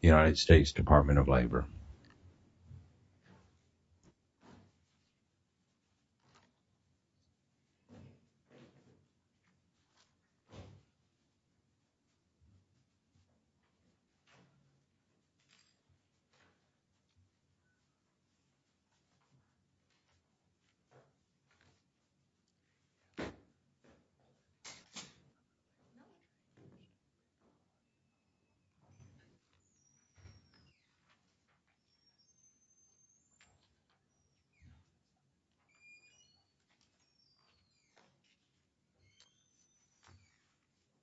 United States Department of Labor.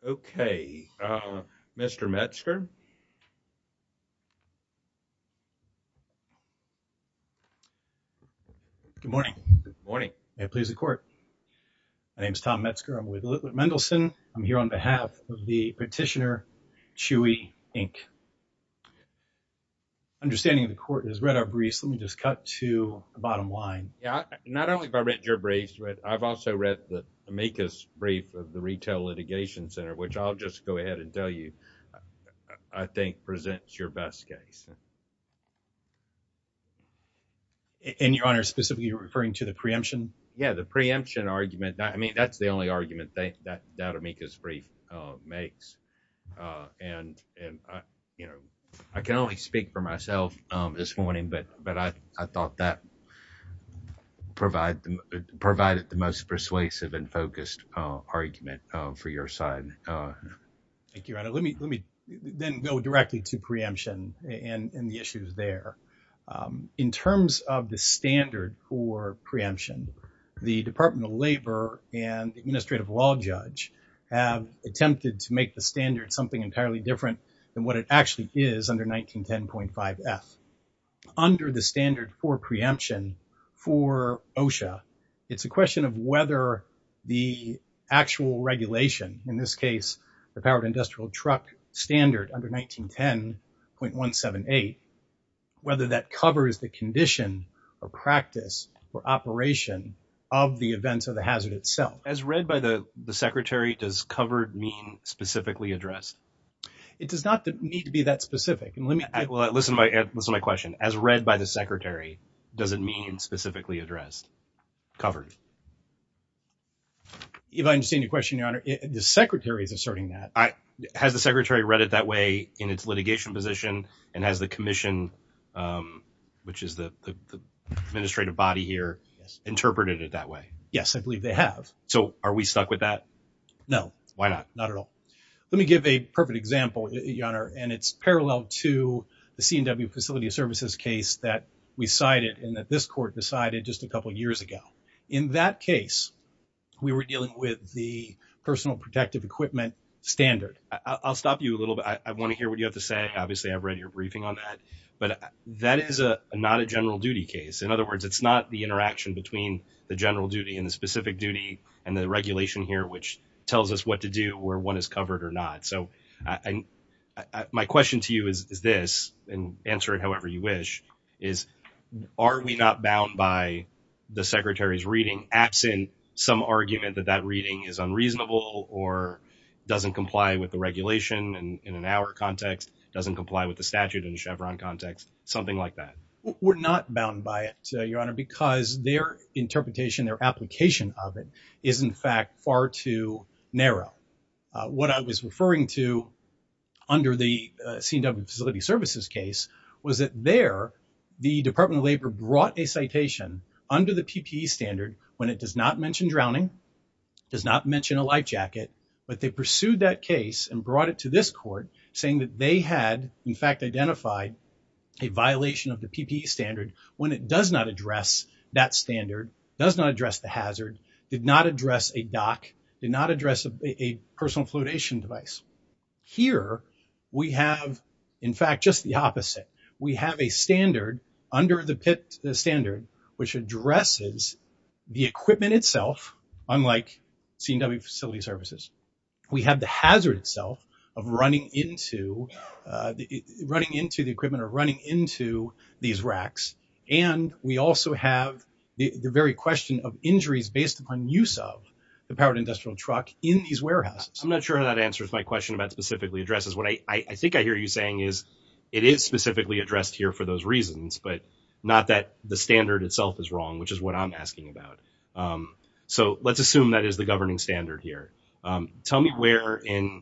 Okay, Mr. Metzger. Good morning. Good morning. May it please the court. My name is Tom Metzger. I'm with Little Mendelsohn. I'm here on behalf of the petitioner, Chewy, Inc. Understanding the court has read our briefs, let me just cut to the bottom line. Yeah, not only have I read your briefs, but I've also read the amicus brief of the Retail Litigation Center, which I'll just go ahead and tell you, I think presents your best case. And your honor, specifically referring to the preemption? Yeah, the preemption argument. I mean, that's the only argument that that amicus brief makes. And, you know, I can only speak for myself this morning, but I thought that provided the most persuasive and focused argument for your side. Thank you, your honor. Let me then go directly to preemption and the issues there. In terms of the standard for preemption, the Department of Labor and the Administrative Law Judge have attempted to make the standard something entirely different than what it actually is under 1910.5 F. Under the standard for preemption for OSHA, it's a question of whether the actual regulation, in this case, the Powered Industrial Truck Standard under 1910.178, whether that covers the condition or practice or operation of the events of the hazard itself. As read by the secretary, does covered mean specifically addressed? It does not need to be that specific. And let me... Well, listen to my question. As read by the secretary, does it mean specifically addressed? Covered? If I understand your question, your honor, the secretary is asserting that. Has the secretary read it that way in its litigation position? And has the commission, which is the administrative body here, interpreted it that way? Yes, I believe they have. So are we stuck with that? No. Why not? Not at all. Let me give a perfect example, your honor, and it's parallel to the C&W Facility Services case that we cited and that this court decided just a couple of years ago. In that case, we were dealing with the Personal Protective Equipment Standard. I'll stop you a little bit. I want to hear what you have to say. Obviously, I've read your briefing on that, but that is not a general duty case. In other words, it's not the interaction between the general duty and the specific duty and the regulation here, which tells us what to do, where one is covered or not. So my question to you is this, and answer it however you wish, is are we not bound by the secretary's reading absent some argument that that reading is unreasonable or doesn't comply with the regulation in an hour context, doesn't comply with the statute in a Chevron context, something like that? We're not bound by it, your honor, because their interpretation, their application of it is in fact far too narrow. What I was referring to under the C&W Facility Services case was that there the Department of Labor brought a citation under the PPE standard when it does not mention drowning, does not mention a life jacket, but they pursued that case and brought it to this court saying that they had in fact identified a violation of the PPE standard when it does not address that standard, does not address the hazard, did not address a dock, did not address a personal flotation device. Here we have in fact just the opposite. We have a standard under the standard which addresses the equipment itself, unlike C&W Facility Services. We have the hazard itself of running into the equipment or running into these racks, and we also have the very question of injuries based upon use of the powered industrial truck in these warehouses. I'm not sure how that answers my question about specifically addresses. What I think I hear you saying is it is specifically addressed here for those reasons, but not that the standard itself is wrong, which is what I'm asking about. So let's assume that is the governing standard here. Tell me where in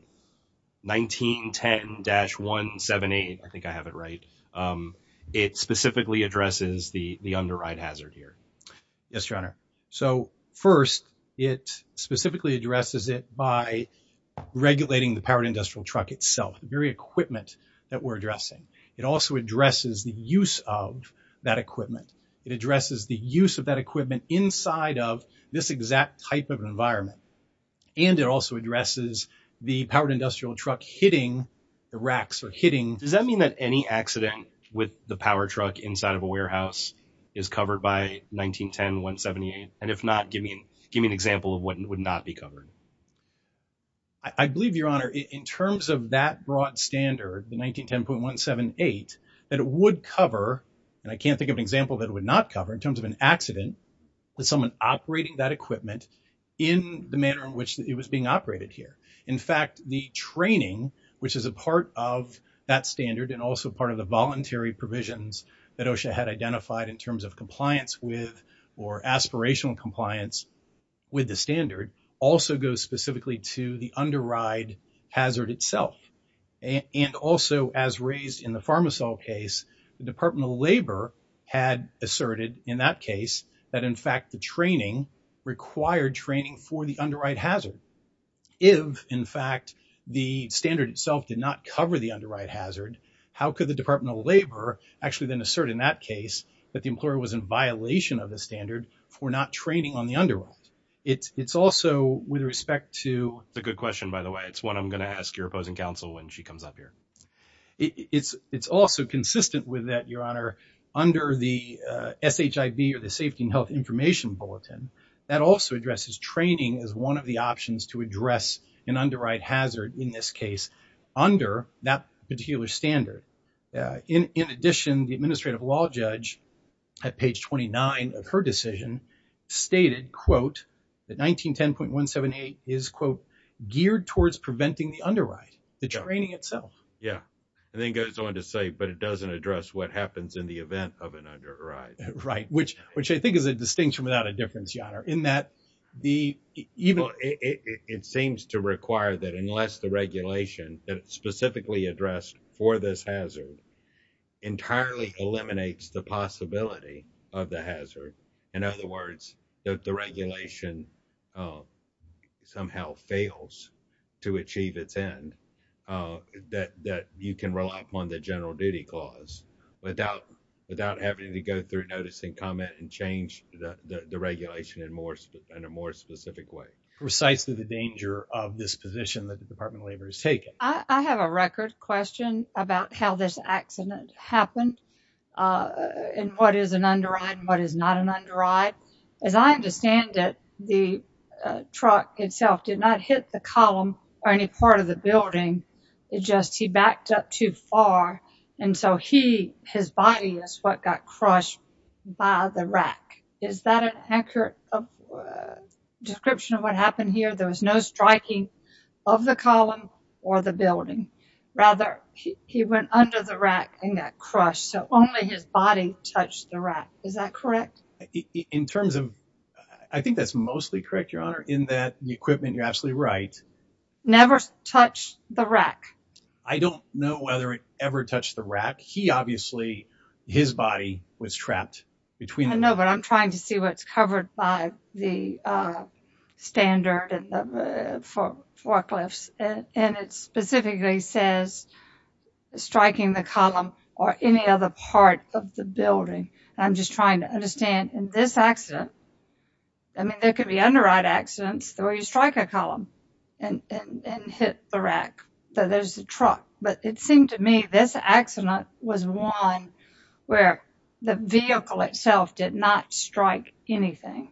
1910-178, I think I have it right, it specifically addresses the underwrite hazard here. Yes, your honor. So first, it specifically addresses it by regulating the powered industrial truck itself, the very equipment that we're addressing. It also addresses the use of that equipment. It addresses the use of that equipment inside of this exact type of environment and it also addresses the powered industrial truck hitting the racks or hitting... Does that mean that any accident with the power truck inside of a warehouse is covered by 1910-178? And if not, give me an example of what would not be covered. I believe, your honor, in terms of that broad standard, the 1910.178, that it would cover, and I can't think of an example that it would not cover in terms of an accident, that someone operating that equipment in the manner in which it was being operated here. In fact, the training, which is a part of that standard and also part of the voluntary provisions that OSHA had identified in terms of compliance with or aspirational compliance with the standard also goes specifically to the underwrite hazard itself. And also, as raised in the that, in fact, the training required training for the underwrite hazard. If, in fact, the standard itself did not cover the underwrite hazard, how could the Department of Labor actually then assert in that case that the employer was in violation of the standard for not training on the underworld? It's also with respect to... It's a good question, by the way. It's one I'm going to ask your opposing counsel when she comes up here. It's also consistent with that, your honor, under the SHIB or the Safety and Health Information Bulletin that also addresses training as one of the options to address an underwrite hazard in this case under that particular standard. In addition, the administrative law judge at page 29 of her decision stated, quote, that 1910.178 is, quote, geared towards preventing the underwrite, the training itself. Yeah. And then goes on to say, but it doesn't address what happens in the event of an underwrite. Right. Which I think is a distinction without a difference, your honor, in that the... It seems to require that unless the regulation that's specifically addressed for this hazard entirely eliminates the possibility of the hazard, in other words, that the regulation somehow fails to achieve its end, that you can rely upon the general duty clause without having to go through notice and comment and change the regulation in a more specific way. Precisely the danger of this position that the Department of Labor has taken. I have a record question about how this accident happened and what is an underwrite and what is not an underwrite. As I understand it, the truck itself did not hit the column or any part of the building. It just, he backed up too far and so he, his body is what got crushed by the rack. Is that an accurate description of what happened here? There was no striking of the column or the building. Rather, he went under the rack and got only his body touched the rack. Is that correct? In terms of, I think that's mostly correct, your honor, in that the equipment, you're absolutely right. Never touched the rack. I don't know whether it ever touched the rack. He obviously, his body was trapped between... I know, but I'm trying to see what's covered by the standard and the forklifts and it specifically says striking the column or any other part of the building. I'm just trying to understand in this accident, I mean, there could be underwrite accidents where you strike a column and hit the rack, but there's the truck. But it seemed to me this accident was one where the vehicle itself did not strike anything.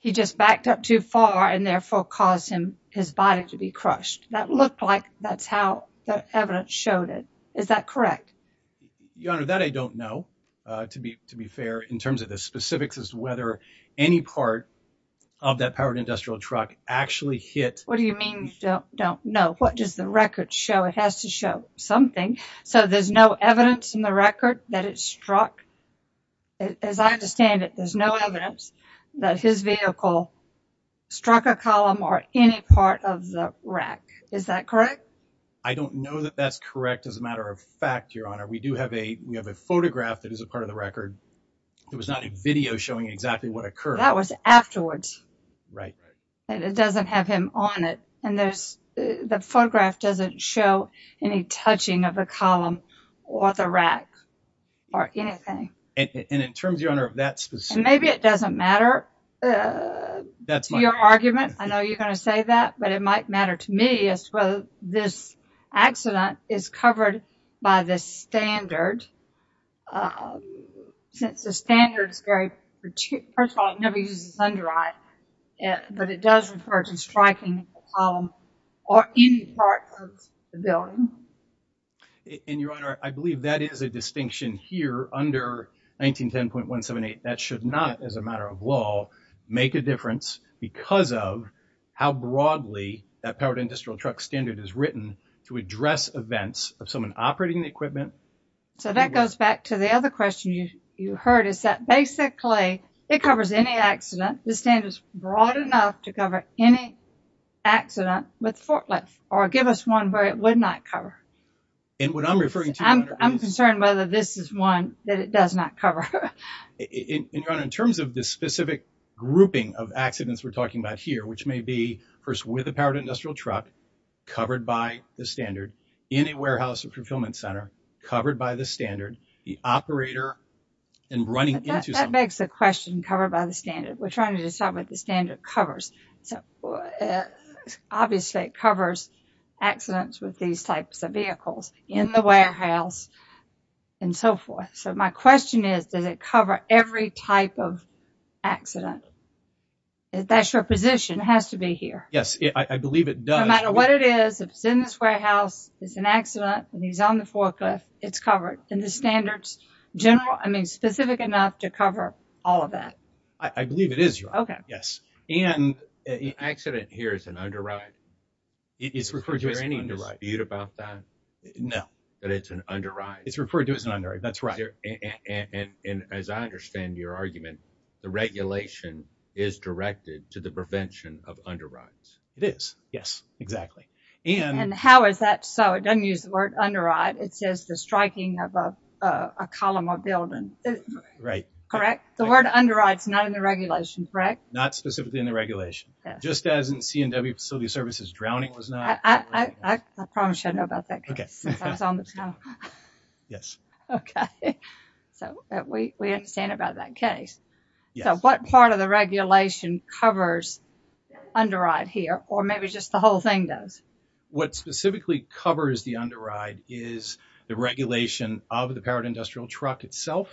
He just backed up too far and therefore caused his body to be crushed. That looked like that's how the evidence showed it. Is that correct? Your honor, that I don't know. To be fair, in terms of the specifics as to whether any part of that powered industrial truck actually hit... What do you mean you don't know? What does the record show? It has to show something. So there's no evidence in the record that it struck. As I understand it, there's no evidence that his vehicle struck a column or any part of the rack. Is that correct? I don't know that that's correct. As a matter of fact, your honor, we do have a, we have a photograph that is a part of the record. It was not a video showing exactly what occurred. That was afterwards. Right. And it doesn't have him on it. And there's, the photograph doesn't show any touching of a column or the rack or anything. And in terms, your honor, of that Maybe it doesn't matter to your argument. I know you're going to say that, but it might matter to me as to whether this accident is covered by the standard. Since the standard is very, first of all, it never uses a sun drive, but it does refer to striking a column or any part of the building. And your honor, I believe that is a distinction here under 1910.178. That should not, as a matter of law, make a difference because of how broadly that powered industrial truck standard is written to address events of someone operating the equipment. So that goes back to the other question you heard is that basically it covers any accident. The standard is broad enough to cover any accident with forklift or give us one where it would not cover. And what I'm referring to, I'm concerned whether this is one that it does not cover. And your honor, in terms of this specific grouping of accidents we're talking about here, which may be first with a powered industrial truck covered by the standard, in a warehouse or fulfillment center covered by the standard, the operator and running into something. That begs the question covered by the standard. We're at, obviously it covers accidents with these types of vehicles in the warehouse and so forth. So my question is, does it cover every type of accident? That's your position. It has to be here. Yes, I believe it does. No matter what it is, if it's in this warehouse, it's an accident and he's on the forklift, it's covered. And the standards general, I mean specific enough to cover all of that. I believe it is. Okay. Yes. And an accident here is an underwrite. Is there any dispute about that? No. But it's an underwrite. It's referred to as an underwrite. That's right. And as I understand your argument, the regulation is directed to the prevention of underwrites. It is. Yes, exactly. And how is that? So it doesn't use the word underwrite. It says the striking of a column or building. Right. Correct? The word underwrite is not in the regulation, correct? Not specifically in the regulation. Just as in C&W Facility Services, drowning was not. I promise you I know about that. Okay. Since I was on the channel. Yes. Okay. So we understand about that case. Yes. So what part of the regulation covers underwrite here or maybe just the whole thing does? What specifically covers the underwrite is the regulation of the powered industrial truck itself,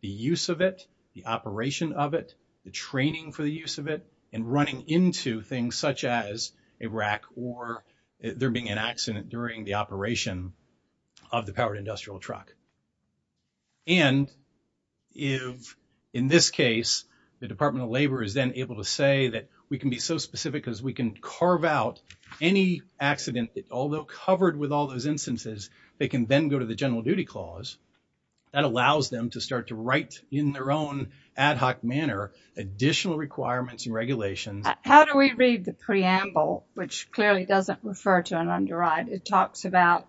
the use of it, the operation of it, the training for the use of it, and running into things such as a rack or there being an accident during the operation of the powered industrial truck. And if in this case, the Department of Labor is then able to say that we can be so specific because we can carve out any accident, although covered with all those instances, they can then go to the general duty clause that allows them to start to write in their own ad hoc manner additional requirements and regulations. How do we read the preamble, which clearly doesn't refer to an underwrite? It talks about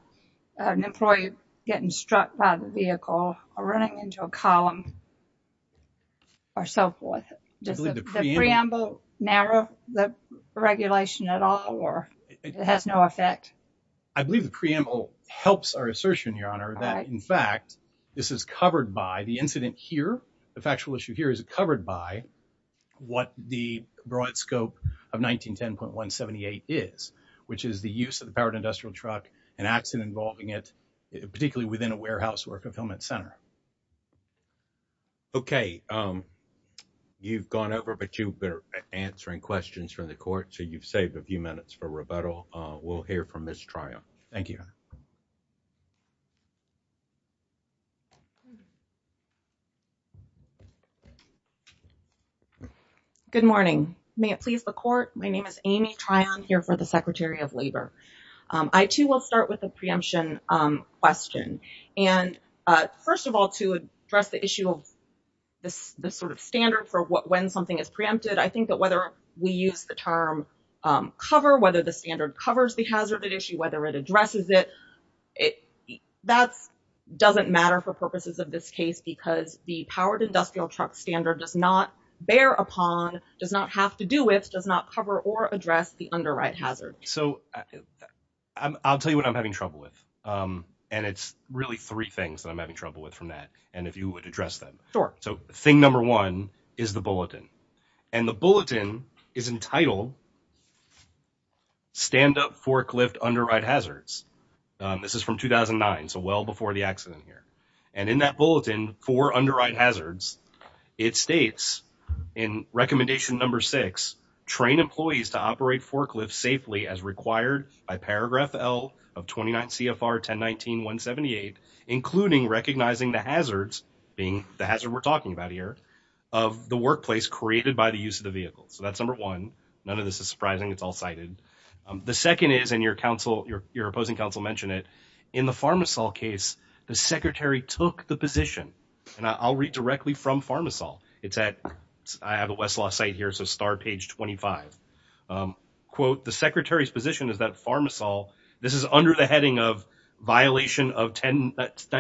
an employee getting struck by the vehicle or running into a column or so forth. Does the preamble narrow the regulation at all or it has no effect? I believe the preamble helps our assertion, Your Honor, that in fact, this is covered by the incident here. The factual issue here is covered by what the broad scope of 1910.178 is, which is the use of the powered industrial truck and accident involving it, particularly within a Okay. You've gone over, but you've been answering questions from the court, so you've saved a few minutes for rebuttal. We'll hear from Ms. Tryon. Thank you. Good morning. May it please the court. My name is Amy Tryon here for the Secretary of Labor. I too will start with a preemption question. First of all, to address the issue of this sort of standard for when something is preempted, I think that whether we use the term cover, whether the standard covers the hazard at issue, whether it addresses it, that doesn't matter for purposes of this case because the powered industrial truck standard does not bear upon, does not have to do with, does not cover or address the underwrite hazard. So I'll tell you what I'm having trouble with. And it's really three things that I'm having trouble with from that. And if you would address them. Sure. So thing number one is the bulletin and the bulletin is entitled stand up forklift underwrite hazards. This is from 2009. So well before the accident here and in that bulletin for underwrite hazards, it states in recommendation number six, train employees to operate forklifts safely as required by paragraph L of 29 CFR 10 19 one 78, including recognizing the hazards being the hazard we're talking about here of the workplace created by the use of the vehicle. So that's number one. None of this is surprising. It's all cited. The second is, and your counsel, your, your opposing counsel mentioned it in the Pharma Sol case, the secretary took the position and I'll read directly from Pharma Sol. It's at, I have a Westlaw site here. So star page 25, um, quote, the secretary's position is that Pharma Sol, this is under the heading of violation of 10,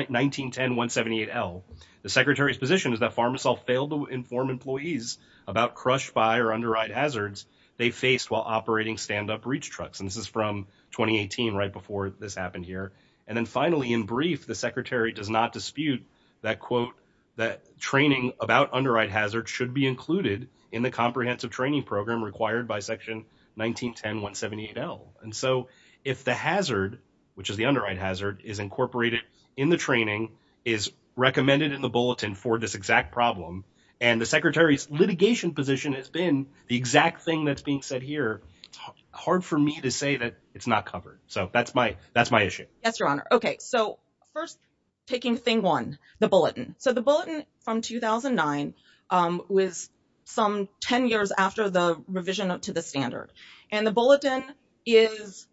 19, 10, one 78 L the secretary's position is that Pharma Sol failed to inform employees about crushed by or underwrite hazards they faced while operating standup reach trucks. And this is from 2018, right before this happened here. And then finally in brief, the secretary does not dispute that quote, that training about underwrite hazard should be included in the comprehensive training program required by section 19, 10, one 78 L. And so if the hazard, which is the underwrite hazard is incorporated in the training is recommended in the bulletin for this exact problem. And the secretary's litigation position has been the exact thing that's being said here. It's hard for me to say that it's not covered. So that's my, that's my issue. Yes, Your Honor. Okay. So first taking thing one, the bulletin. So the bulletin from 2009, um, was some 10 years after the revision to the standard and the bulletin is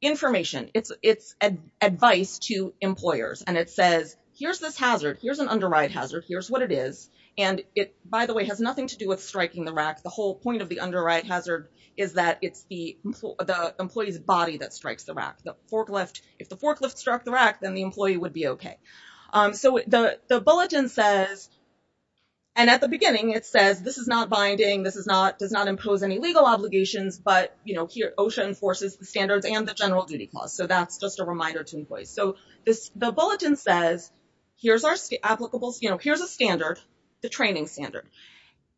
information. It's, it's advice to employers. And it says, here's this hazard. Here's an underwrite hazard. Here's what it is. And it, by the way, has nothing to do with striking the rack. The whole point of the underwrite hazard is that it's the, the employee's body that strikes the rack, the forklift. If the forklift struck the rack, then the employee would be okay. Um, so the, the bulletin says, and at the beginning it says, this is not binding. This is not, does not impose any legal obligations, but you know, here OSHA enforces the standards and the general duty clause. So that's just a reminder to employees. So this, the bulletin says, here's our applicable, you know, here's a standard, the training standard.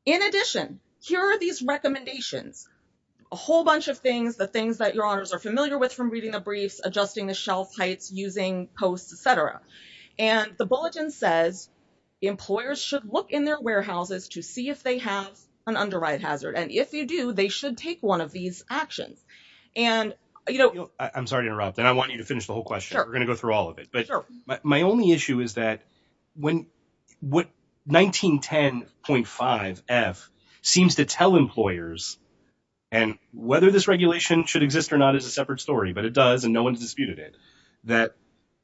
In addition, here are these recommendations, a whole bunch of things, the things that Your Honors are familiar with from reading the briefs, adjusting the shelf heights, using posts, et cetera. And the bulletin says, employers should look in their warehouses to see if they have an underwrite hazard. And if you do, they should take one of these actions. And you know, I'm sorry to interrupt. And I want you to finish the whole question. We're going to go through all of it. But my only issue is that when, what 1910.5F seems to tell employers, and whether this regulation should exist or not is a separate story, but it does, no one's disputed it,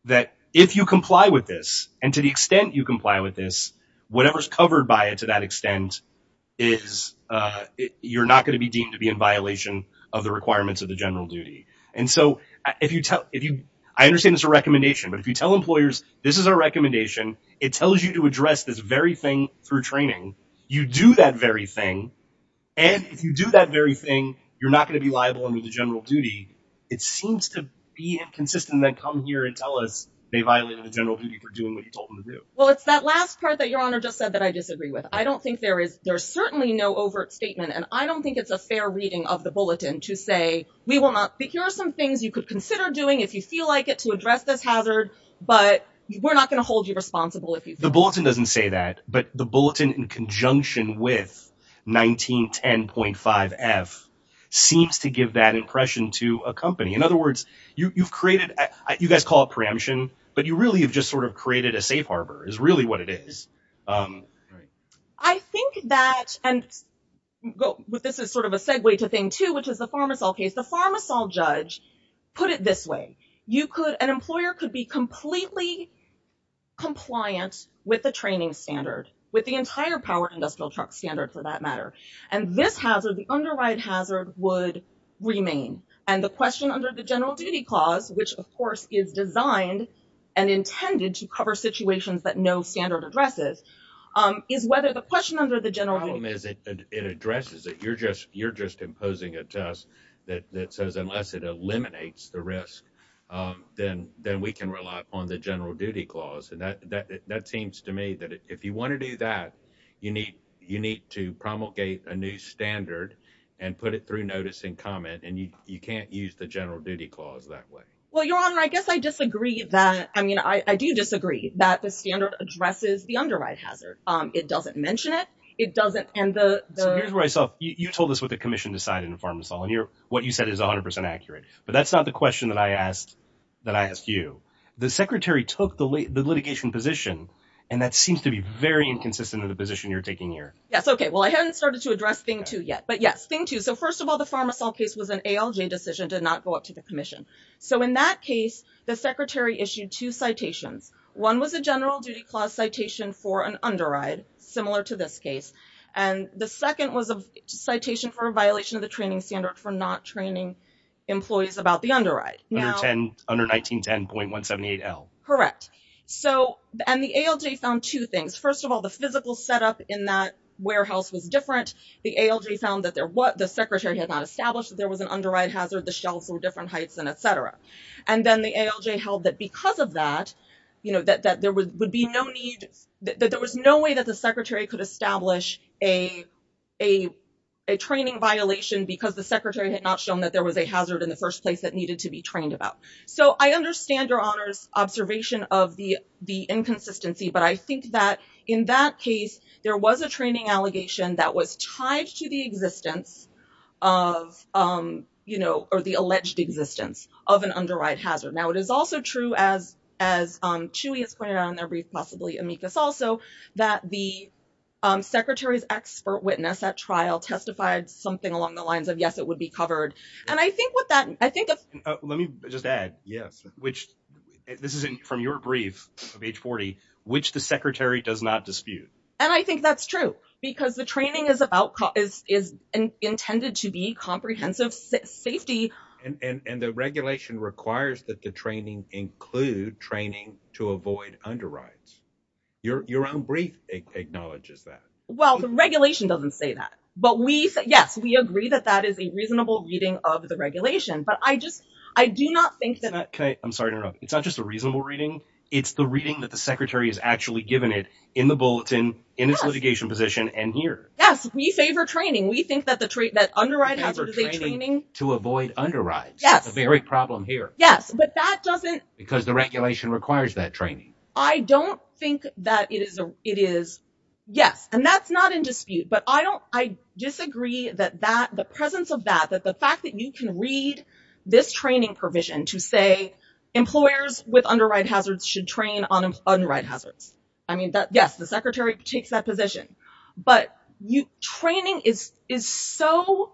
that if you comply with this, and to the extent you comply with this, whatever's covered by it to that extent is, you're not going to be deemed to be in violation of the requirements of the general duty. And so if you tell, if you, I understand it's a recommendation, but if you tell employers, this is our recommendation, it tells you to address this very thing through training. You do that very thing. And if you do that very thing, you're going to be liable under the general duty. It seems to be inconsistent that come here and tell us they violated the general duty for doing what you told them to do. Well, it's that last part that your honor just said that I disagree with. I don't think there is, there's certainly no overt statement. And I don't think it's a fair reading of the bulletin to say, we will not, but here are some things you could consider doing if you feel like it to address this hazard, but we're not going to hold you responsible if you. The bulletin doesn't say that, but the bulletin in conjunction with 1910.5 F seems to give that impression to a company. In other words, you you've created, you guys call it preemption, but you really have just sort of created a safe Harbor is really what it is. Right. I think that, and go with, this is sort of a segue to thing too, which is the pharmaceutical case. The pharmaceutical judge put it this way. You could, an employer could be for that matter. And this hazard, the underwrite hazard would remain. And the question under the general duty clause, which of course is designed and intended to cover situations that no standard addresses, um, is whether the question under the general home is it, it addresses it. You're just, you're just imposing a test that says, unless it eliminates the risk, um, then, then we can rely upon the general duty clause. And that, that, that seems to me that if you want to do that, you need, you need to promulgate a new standard and put it through notice and comment. And you, you can't use the general duty clause that way. Well, your honor, I guess I disagree that. I mean, I do disagree that the standard addresses the underwrite hazard. Um, it doesn't mention it. It doesn't. And the, so here's where I saw you, you told us what the commission decided in the pharmaceutical and you're, what you said is a hundred percent accurate, but that's not the question that I asked that I asked you, the secretary took the litigation position. And that seems to be very inconsistent in the position you're taking here. Yes. Okay. Well, I hadn't started to address thing two yet, but yes, thing two. So first of all, the pharmaceutical case was an ALJ decision did not go up to the commission. So in that case, the secretary issued two citations. One was a general duty clause citation for an underwrite similar to this case. And the second was a citation for a violation of the training standard for not training employees about the underwrite. Under 1910.178L. Correct. So, and the ALJ found two things. First of all, the physical setup in that warehouse was different. The ALJ found that there was, the secretary had not established that there was an underwrite hazard, the shelves were different heights and et cetera. And then the ALJ held that because of that, you know, that, that there would be no need that there was no way that the secretary could establish a, a, a training violation because the secretary had not shown that there was a hazard in the first place that needed to be trained about. So I understand your honors observation of the, the inconsistency, but I think that in that case, there was a training allegation that was tied to the existence of you know, or the alleged existence of an underwrite hazard. Now it is also true as, as Chewy has pointed out in their brief, possibly amicus also that the secretary's expert witness at trial testified something along the lines of, yes, it would be covered. And I think what that, I think, let me just add, yes, which this isn't from your brief of age 40, which the secretary does not dispute. And I think that's true because the training is about, is, is intended to be comprehensive safety. And, and, and the regulation requires that the training include training to avoid underwrites. Your, your own brief acknowledges that. Well, the regulation doesn't say that, but we, yes, we agree that that is a reasonable reading of the regulation, but I just, I do not think that. Okay. I'm sorry to interrupt. It's not just a reasonable reading. It's the reading that the secretary has actually given it in the bulletin, in its litigation position and here. Yes. We favor training. We think that the trait that underwrite hazard is a training to avoid underwrites. Yes. Very problem here. Yes. Because the regulation requires that training. I don't think that it is a, it is yes. And that's not in dispute, but I don't, I disagree that that the presence of that, that the fact that you can read this training provision to say employers with underwrite hazards should train on underwrite hazards. I mean that yes, the secretary takes that position, but you training is, is so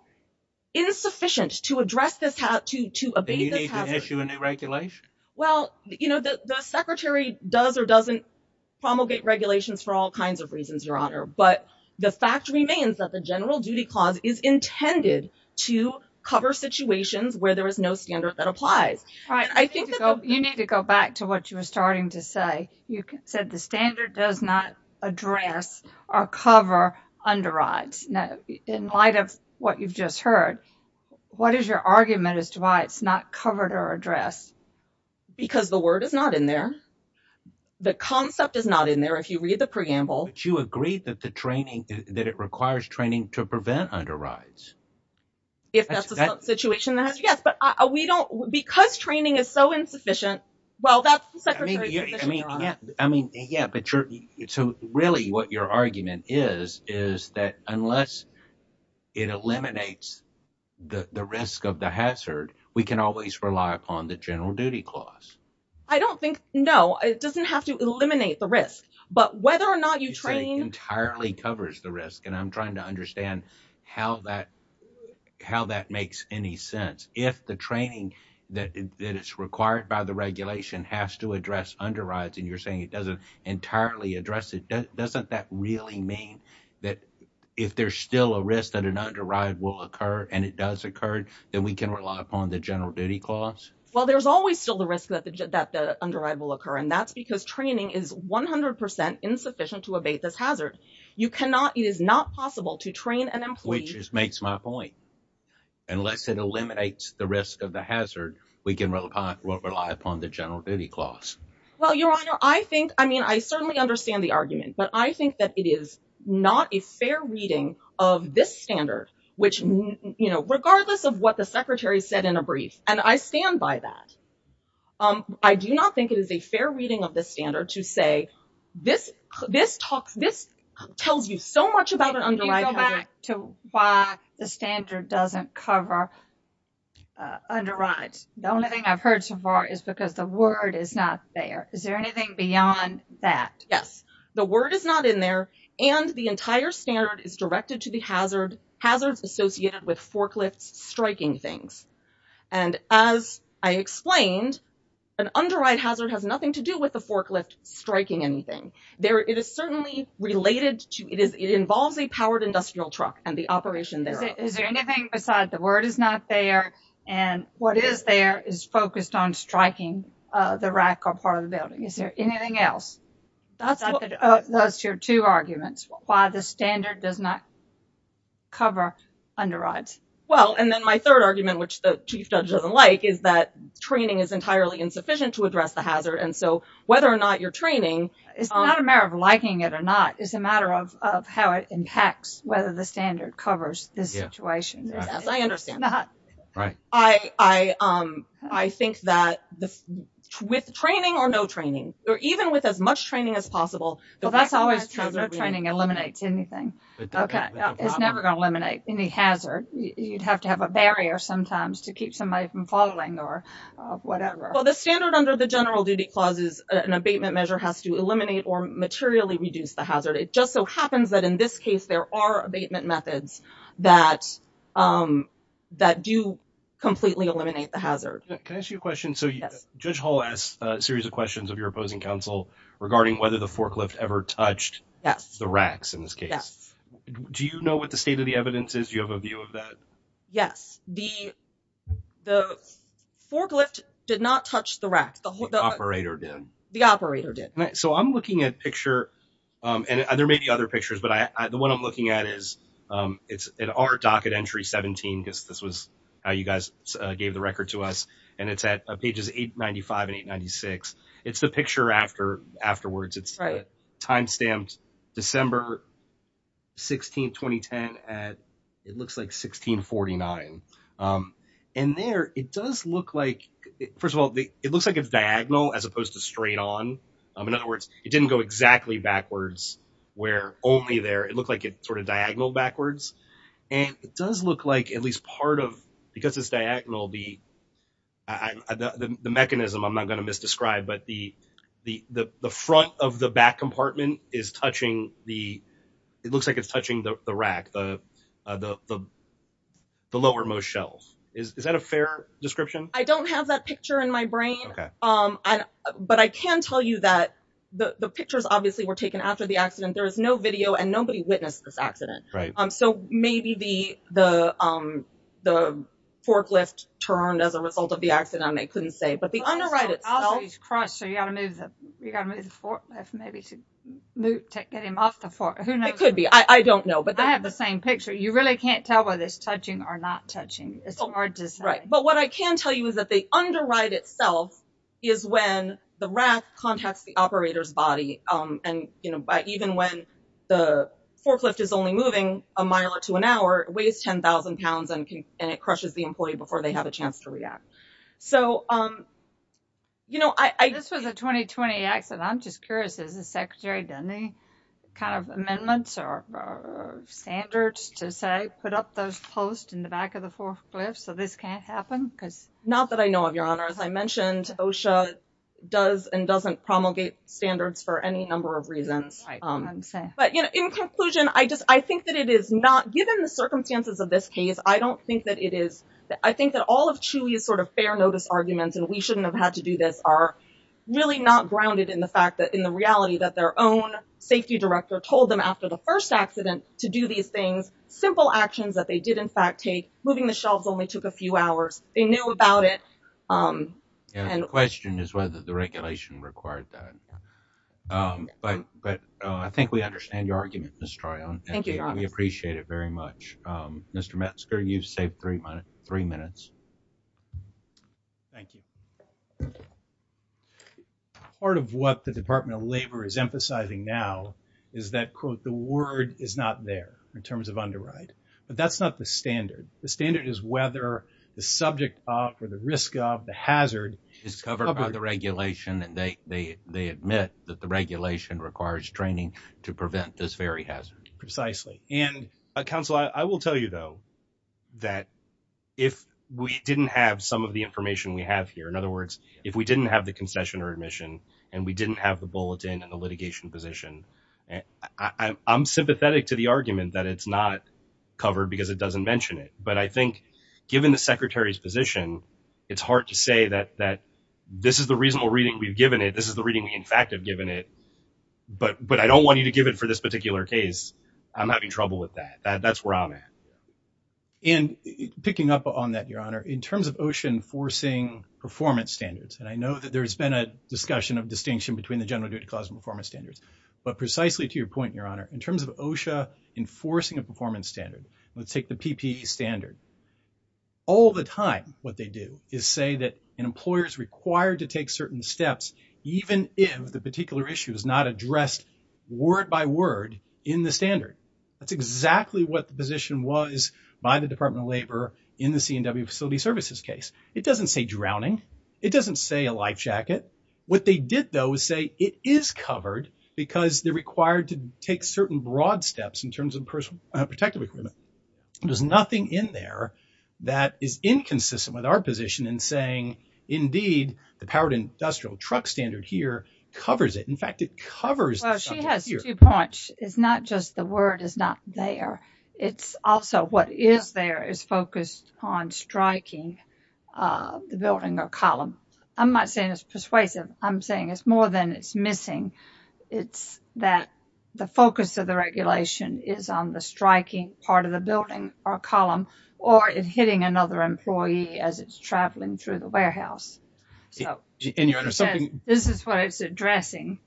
insufficient to address this, to, to abate this hazard. Do you need to issue a new regulation? Well, you know, the, the secretary does or doesn't promulgate regulations for all kinds of reasons, your honor, but the fact remains that the general duty clause is intended to cover situations where there is no standard that applies. All right. I think that you need to go back to what you were starting to say. You said the standard does not address or cover underwrites. Now, in light of what you've just heard, what is your argument as to why it's not covered or addressed? Because the word is not in there. The concept is not in there. If you read the preamble. But you agreed that the training, that it requires training to prevent underwrites. If that's the situation that has, yes, but we don't, because training is so insufficient. Well, that's, I mean, yeah, I mean, yeah, but you're, so really what your argument is, is that unless it eliminates the risk of the hazard, we can always rely upon the general duty clause. I don't think, no, it doesn't have to eliminate the risk, but whether or not you train entirely covers the risk. And I'm trying to understand how that, how that makes any sense. If the training that is required by the regulation has to address underwrites and you're saying it doesn't entirely address it, doesn't that really mean that if there's still a risk that an underwrite will occur and it does occur, then we can rely upon the general duty clause? Well, there's always still the risk that the underwrite will occur. And that's because training is 100% insufficient to abate this hazard. You cannot, it is not possible to train Which makes my point. Unless it eliminates the risk of the hazard, we can rely upon the general duty clause. Well, your honor, I think, I mean, I certainly understand the argument, but I think that it is not a fair reading of this standard, which, you know, regardless of what the secretary said in a brief, and I stand by that. I do not think it is a fair reading of the standard to say this, this talks, this tells you so much about an underwrite to why the standard doesn't cover underwrites. The only thing I've heard so far is because the word is not there. Is there anything beyond that? Yes. The word is not in there and the entire standard is directed to the hazard, hazards associated with forklifts striking things. And as I explained, an underwrite hazard has to do with the forklift striking anything. There, it is certainly related to, it is, it involves a powered industrial truck and the operation thereof. Is there anything beside the word is not there and what is there is focused on striking the rack or part of the building? Is there anything else? That's your two arguments, why the standard does not cover underwrites. Well, and then my third argument, which the chief judge doesn't like, is that training is entirely insufficient to address the hazard. And so whether or not you're training. It's not a matter of liking it or not. It's a matter of, of how it impacts, whether the standard covers this situation. I understand that. Right. I, I, I think that with training or no training, or even with as much training as possible. Well, that's always true. No training eliminates anything. Okay. It's never going to eliminate any hazard. You'd have to have a barrier sometimes to keep somebody from falling or whatever. Well, the standard under the general duty clause is an abatement measure has to eliminate or materially reduce the hazard. It just so happens that in this case, there are abatement methods that, um, that do completely eliminate the hazard. Can I ask you a question? So judge hall has a series of questions of your opposing counsel regarding whether the forklift ever touched the racks in this case. Do you know what the state of the evidence is? Do you have a view of that? Yes. The, the forklift did not touch the rack. The operator did. The operator did. So I'm looking at picture, um, and there may be other pictures, but I, I, the one I'm looking at is, um, it's in our docket entry 17, because this was how you guys gave the record to us. And it's at pages eight 95 and eight 96. It's the picture after afterwards it's timestamped December 16th, 2010 at it looks like 1649. Um, and there, it does look like, first of all, it looks like it's diagonal as opposed to straight on. Um, in other words, it didn't go exactly backwards where only there, it looked like it sort of diagonal backwards. And it does look like at least part of, because it's diagonal, the, I, the, the mechanism I'm not going to misdescribe, but the, the, the, the front of the back compartment is touching the, it looks like it's touching the rack, the, uh, the, the, the lower most shelves. Is that a fair description? I don't have that picture in my brain. Um, but I can tell you that the pictures obviously were taken after the accident. There was no video and nobody witnessed this accident. Um, so maybe the, the, um, the forklift turned as a result of the accident and they couldn't say, but the underwrite itself is crushed. So you got to move the, you got to move the forklift maybe to get him off the fork. Who knows? It could be, I don't know, but I have the same picture. You really can't tell whether it's touching or not touching. It's hard to say. Right. But what I can tell you is that the underwrite itself is when the rack contacts the operator's body. Um, and you know, by even when the forklift is only moving a mile or two an hour, it weighs 10,000 pounds and, and it crushes the employee before they have a chance to react. So, um, you know, I, I, this was a 2020 accident. I'm just curious, is the secretary done any kind of amendments or standards to say, put up those posts in the back of the forklift so this can't happen? Cause not that I know of your honor, as I mentioned, OSHA does and doesn't promulgate standards for any number of reasons. Um, but you know, in conclusion, I just, I think that it is not given the circumstances of this case. I don't think that it is. I think that all of truly is sort of fair notice arguments and we shouldn't have had to do this are really not grounded in the fact that in the reality that their own safety director told them after the first accident to do these things, simple actions that they did in fact take moving the shelves only took a few hours. They knew about it. Um, the question is whether the regulation required that. Um, but, but, uh, I think we understand your argument, Mr. Troy. Thank you. We appreciate it very much. Um, Mr. Metzger, you've saved three minutes, three minutes. Thank you. Part of what the department of labor is emphasizing now is that quote, the word is not there in terms of underwrite, but that's not the standard. The standard is whether the subject of, or the risk of the hazard is covered by the regulation. And they, they, they admit that the regulation requires training to prevent this very hazard precisely. And, uh, counsel, I will tell you though, that if we didn't have some of the information we have here, in other words, if we didn't have the concession or admission, and we didn't have the bulletin and the litigation position, I I'm sympathetic to the argument that it's not covered because it doesn't mention it. But I think given the secretary's position, it's hard to say that, that this is the reasonable reading we've given it. This is the reading we in fact have given it, but, but I don't want you to give it for this particular case. I'm having trouble with that. That that's where I'm at. And picking up on that, your Honor, in terms of OSHA enforcing performance standards. And I know that there has been a discussion of distinction between the general duty clause and performance standards, but precisely to your point, your Honor, in terms of OSHA enforcing a performance standard, let's take the PPE standard. All the time, what they do is say that an employer is required to take certain steps, even if the particular issue is not addressed word by word in the standard. That's exactly what the position was by the department of labor in the CNW facility services case. It doesn't say drowning. It doesn't say a life jacket. What they did though, is say it is covered because they're required to take certain broad steps in terms of personal equipment. There's nothing in there that is inconsistent with our position in saying, indeed, the powered industrial truck standard here covers it. In fact, it covers it. Well, she has two points. It's not just the word is not there. It's also what is there is focused on striking the building or column. I'm not saying it's persuasive. I'm saying it's more than it's missing. It's that the focus of the regulation is on the striking part of the building or column, or it hitting another employee as it's traveling through the warehouse. This is what it's addressing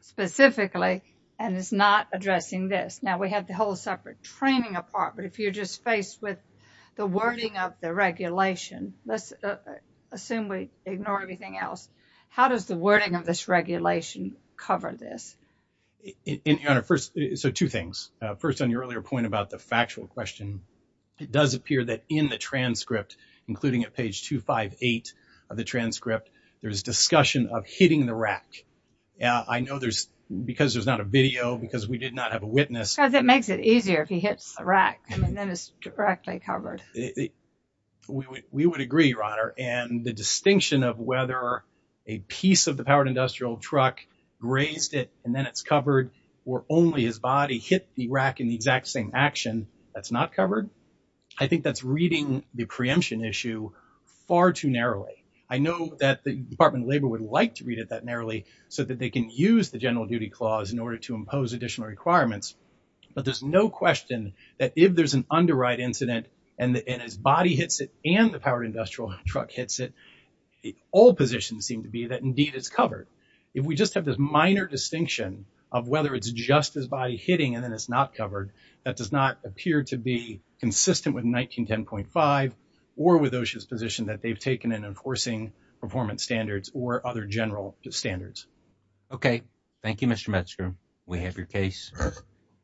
specifically, and it's not addressing this. Now we have the whole separate training apart, but if you're just faced with the wording of the regulation, let's assume we ignore everything else. How does the wording of this regulation cover this? Two things. First, on your earlier point about the factual question, it does appear that in the transcript, including at page 258 of the transcript, there's discussion of hitting the rack. I know there's, because there's not a video, because we did not have a witness. Because it makes it easier if he hits a rack and then it's directly covered. We would agree, Your Honor, and the distinction of whether a piece of the powered industrial truck grazed it and then it's covered, or only his body hit the rack in the exact same action, that's not covered. I think that's reading the preemption issue far too narrowly. I know that the Department of Labor would like to read it that narrowly so that they can use the general duty clause in order to impose additional requirements, but there's no question that if there's an underwrite incident and his body hits it and the powered industrial truck hits it, all positions seem to be that indeed it's covered. If we just have this minor distinction of whether it's just his body hitting and then it's not covered, that does not appear to be consistent with 1910.5 or with OSHA's position that they've taken in enforcing performance standards or other general standards. Okay, thank you, Mr. Metzger. We have your case.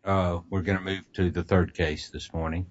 We're going to move to the third case this morning.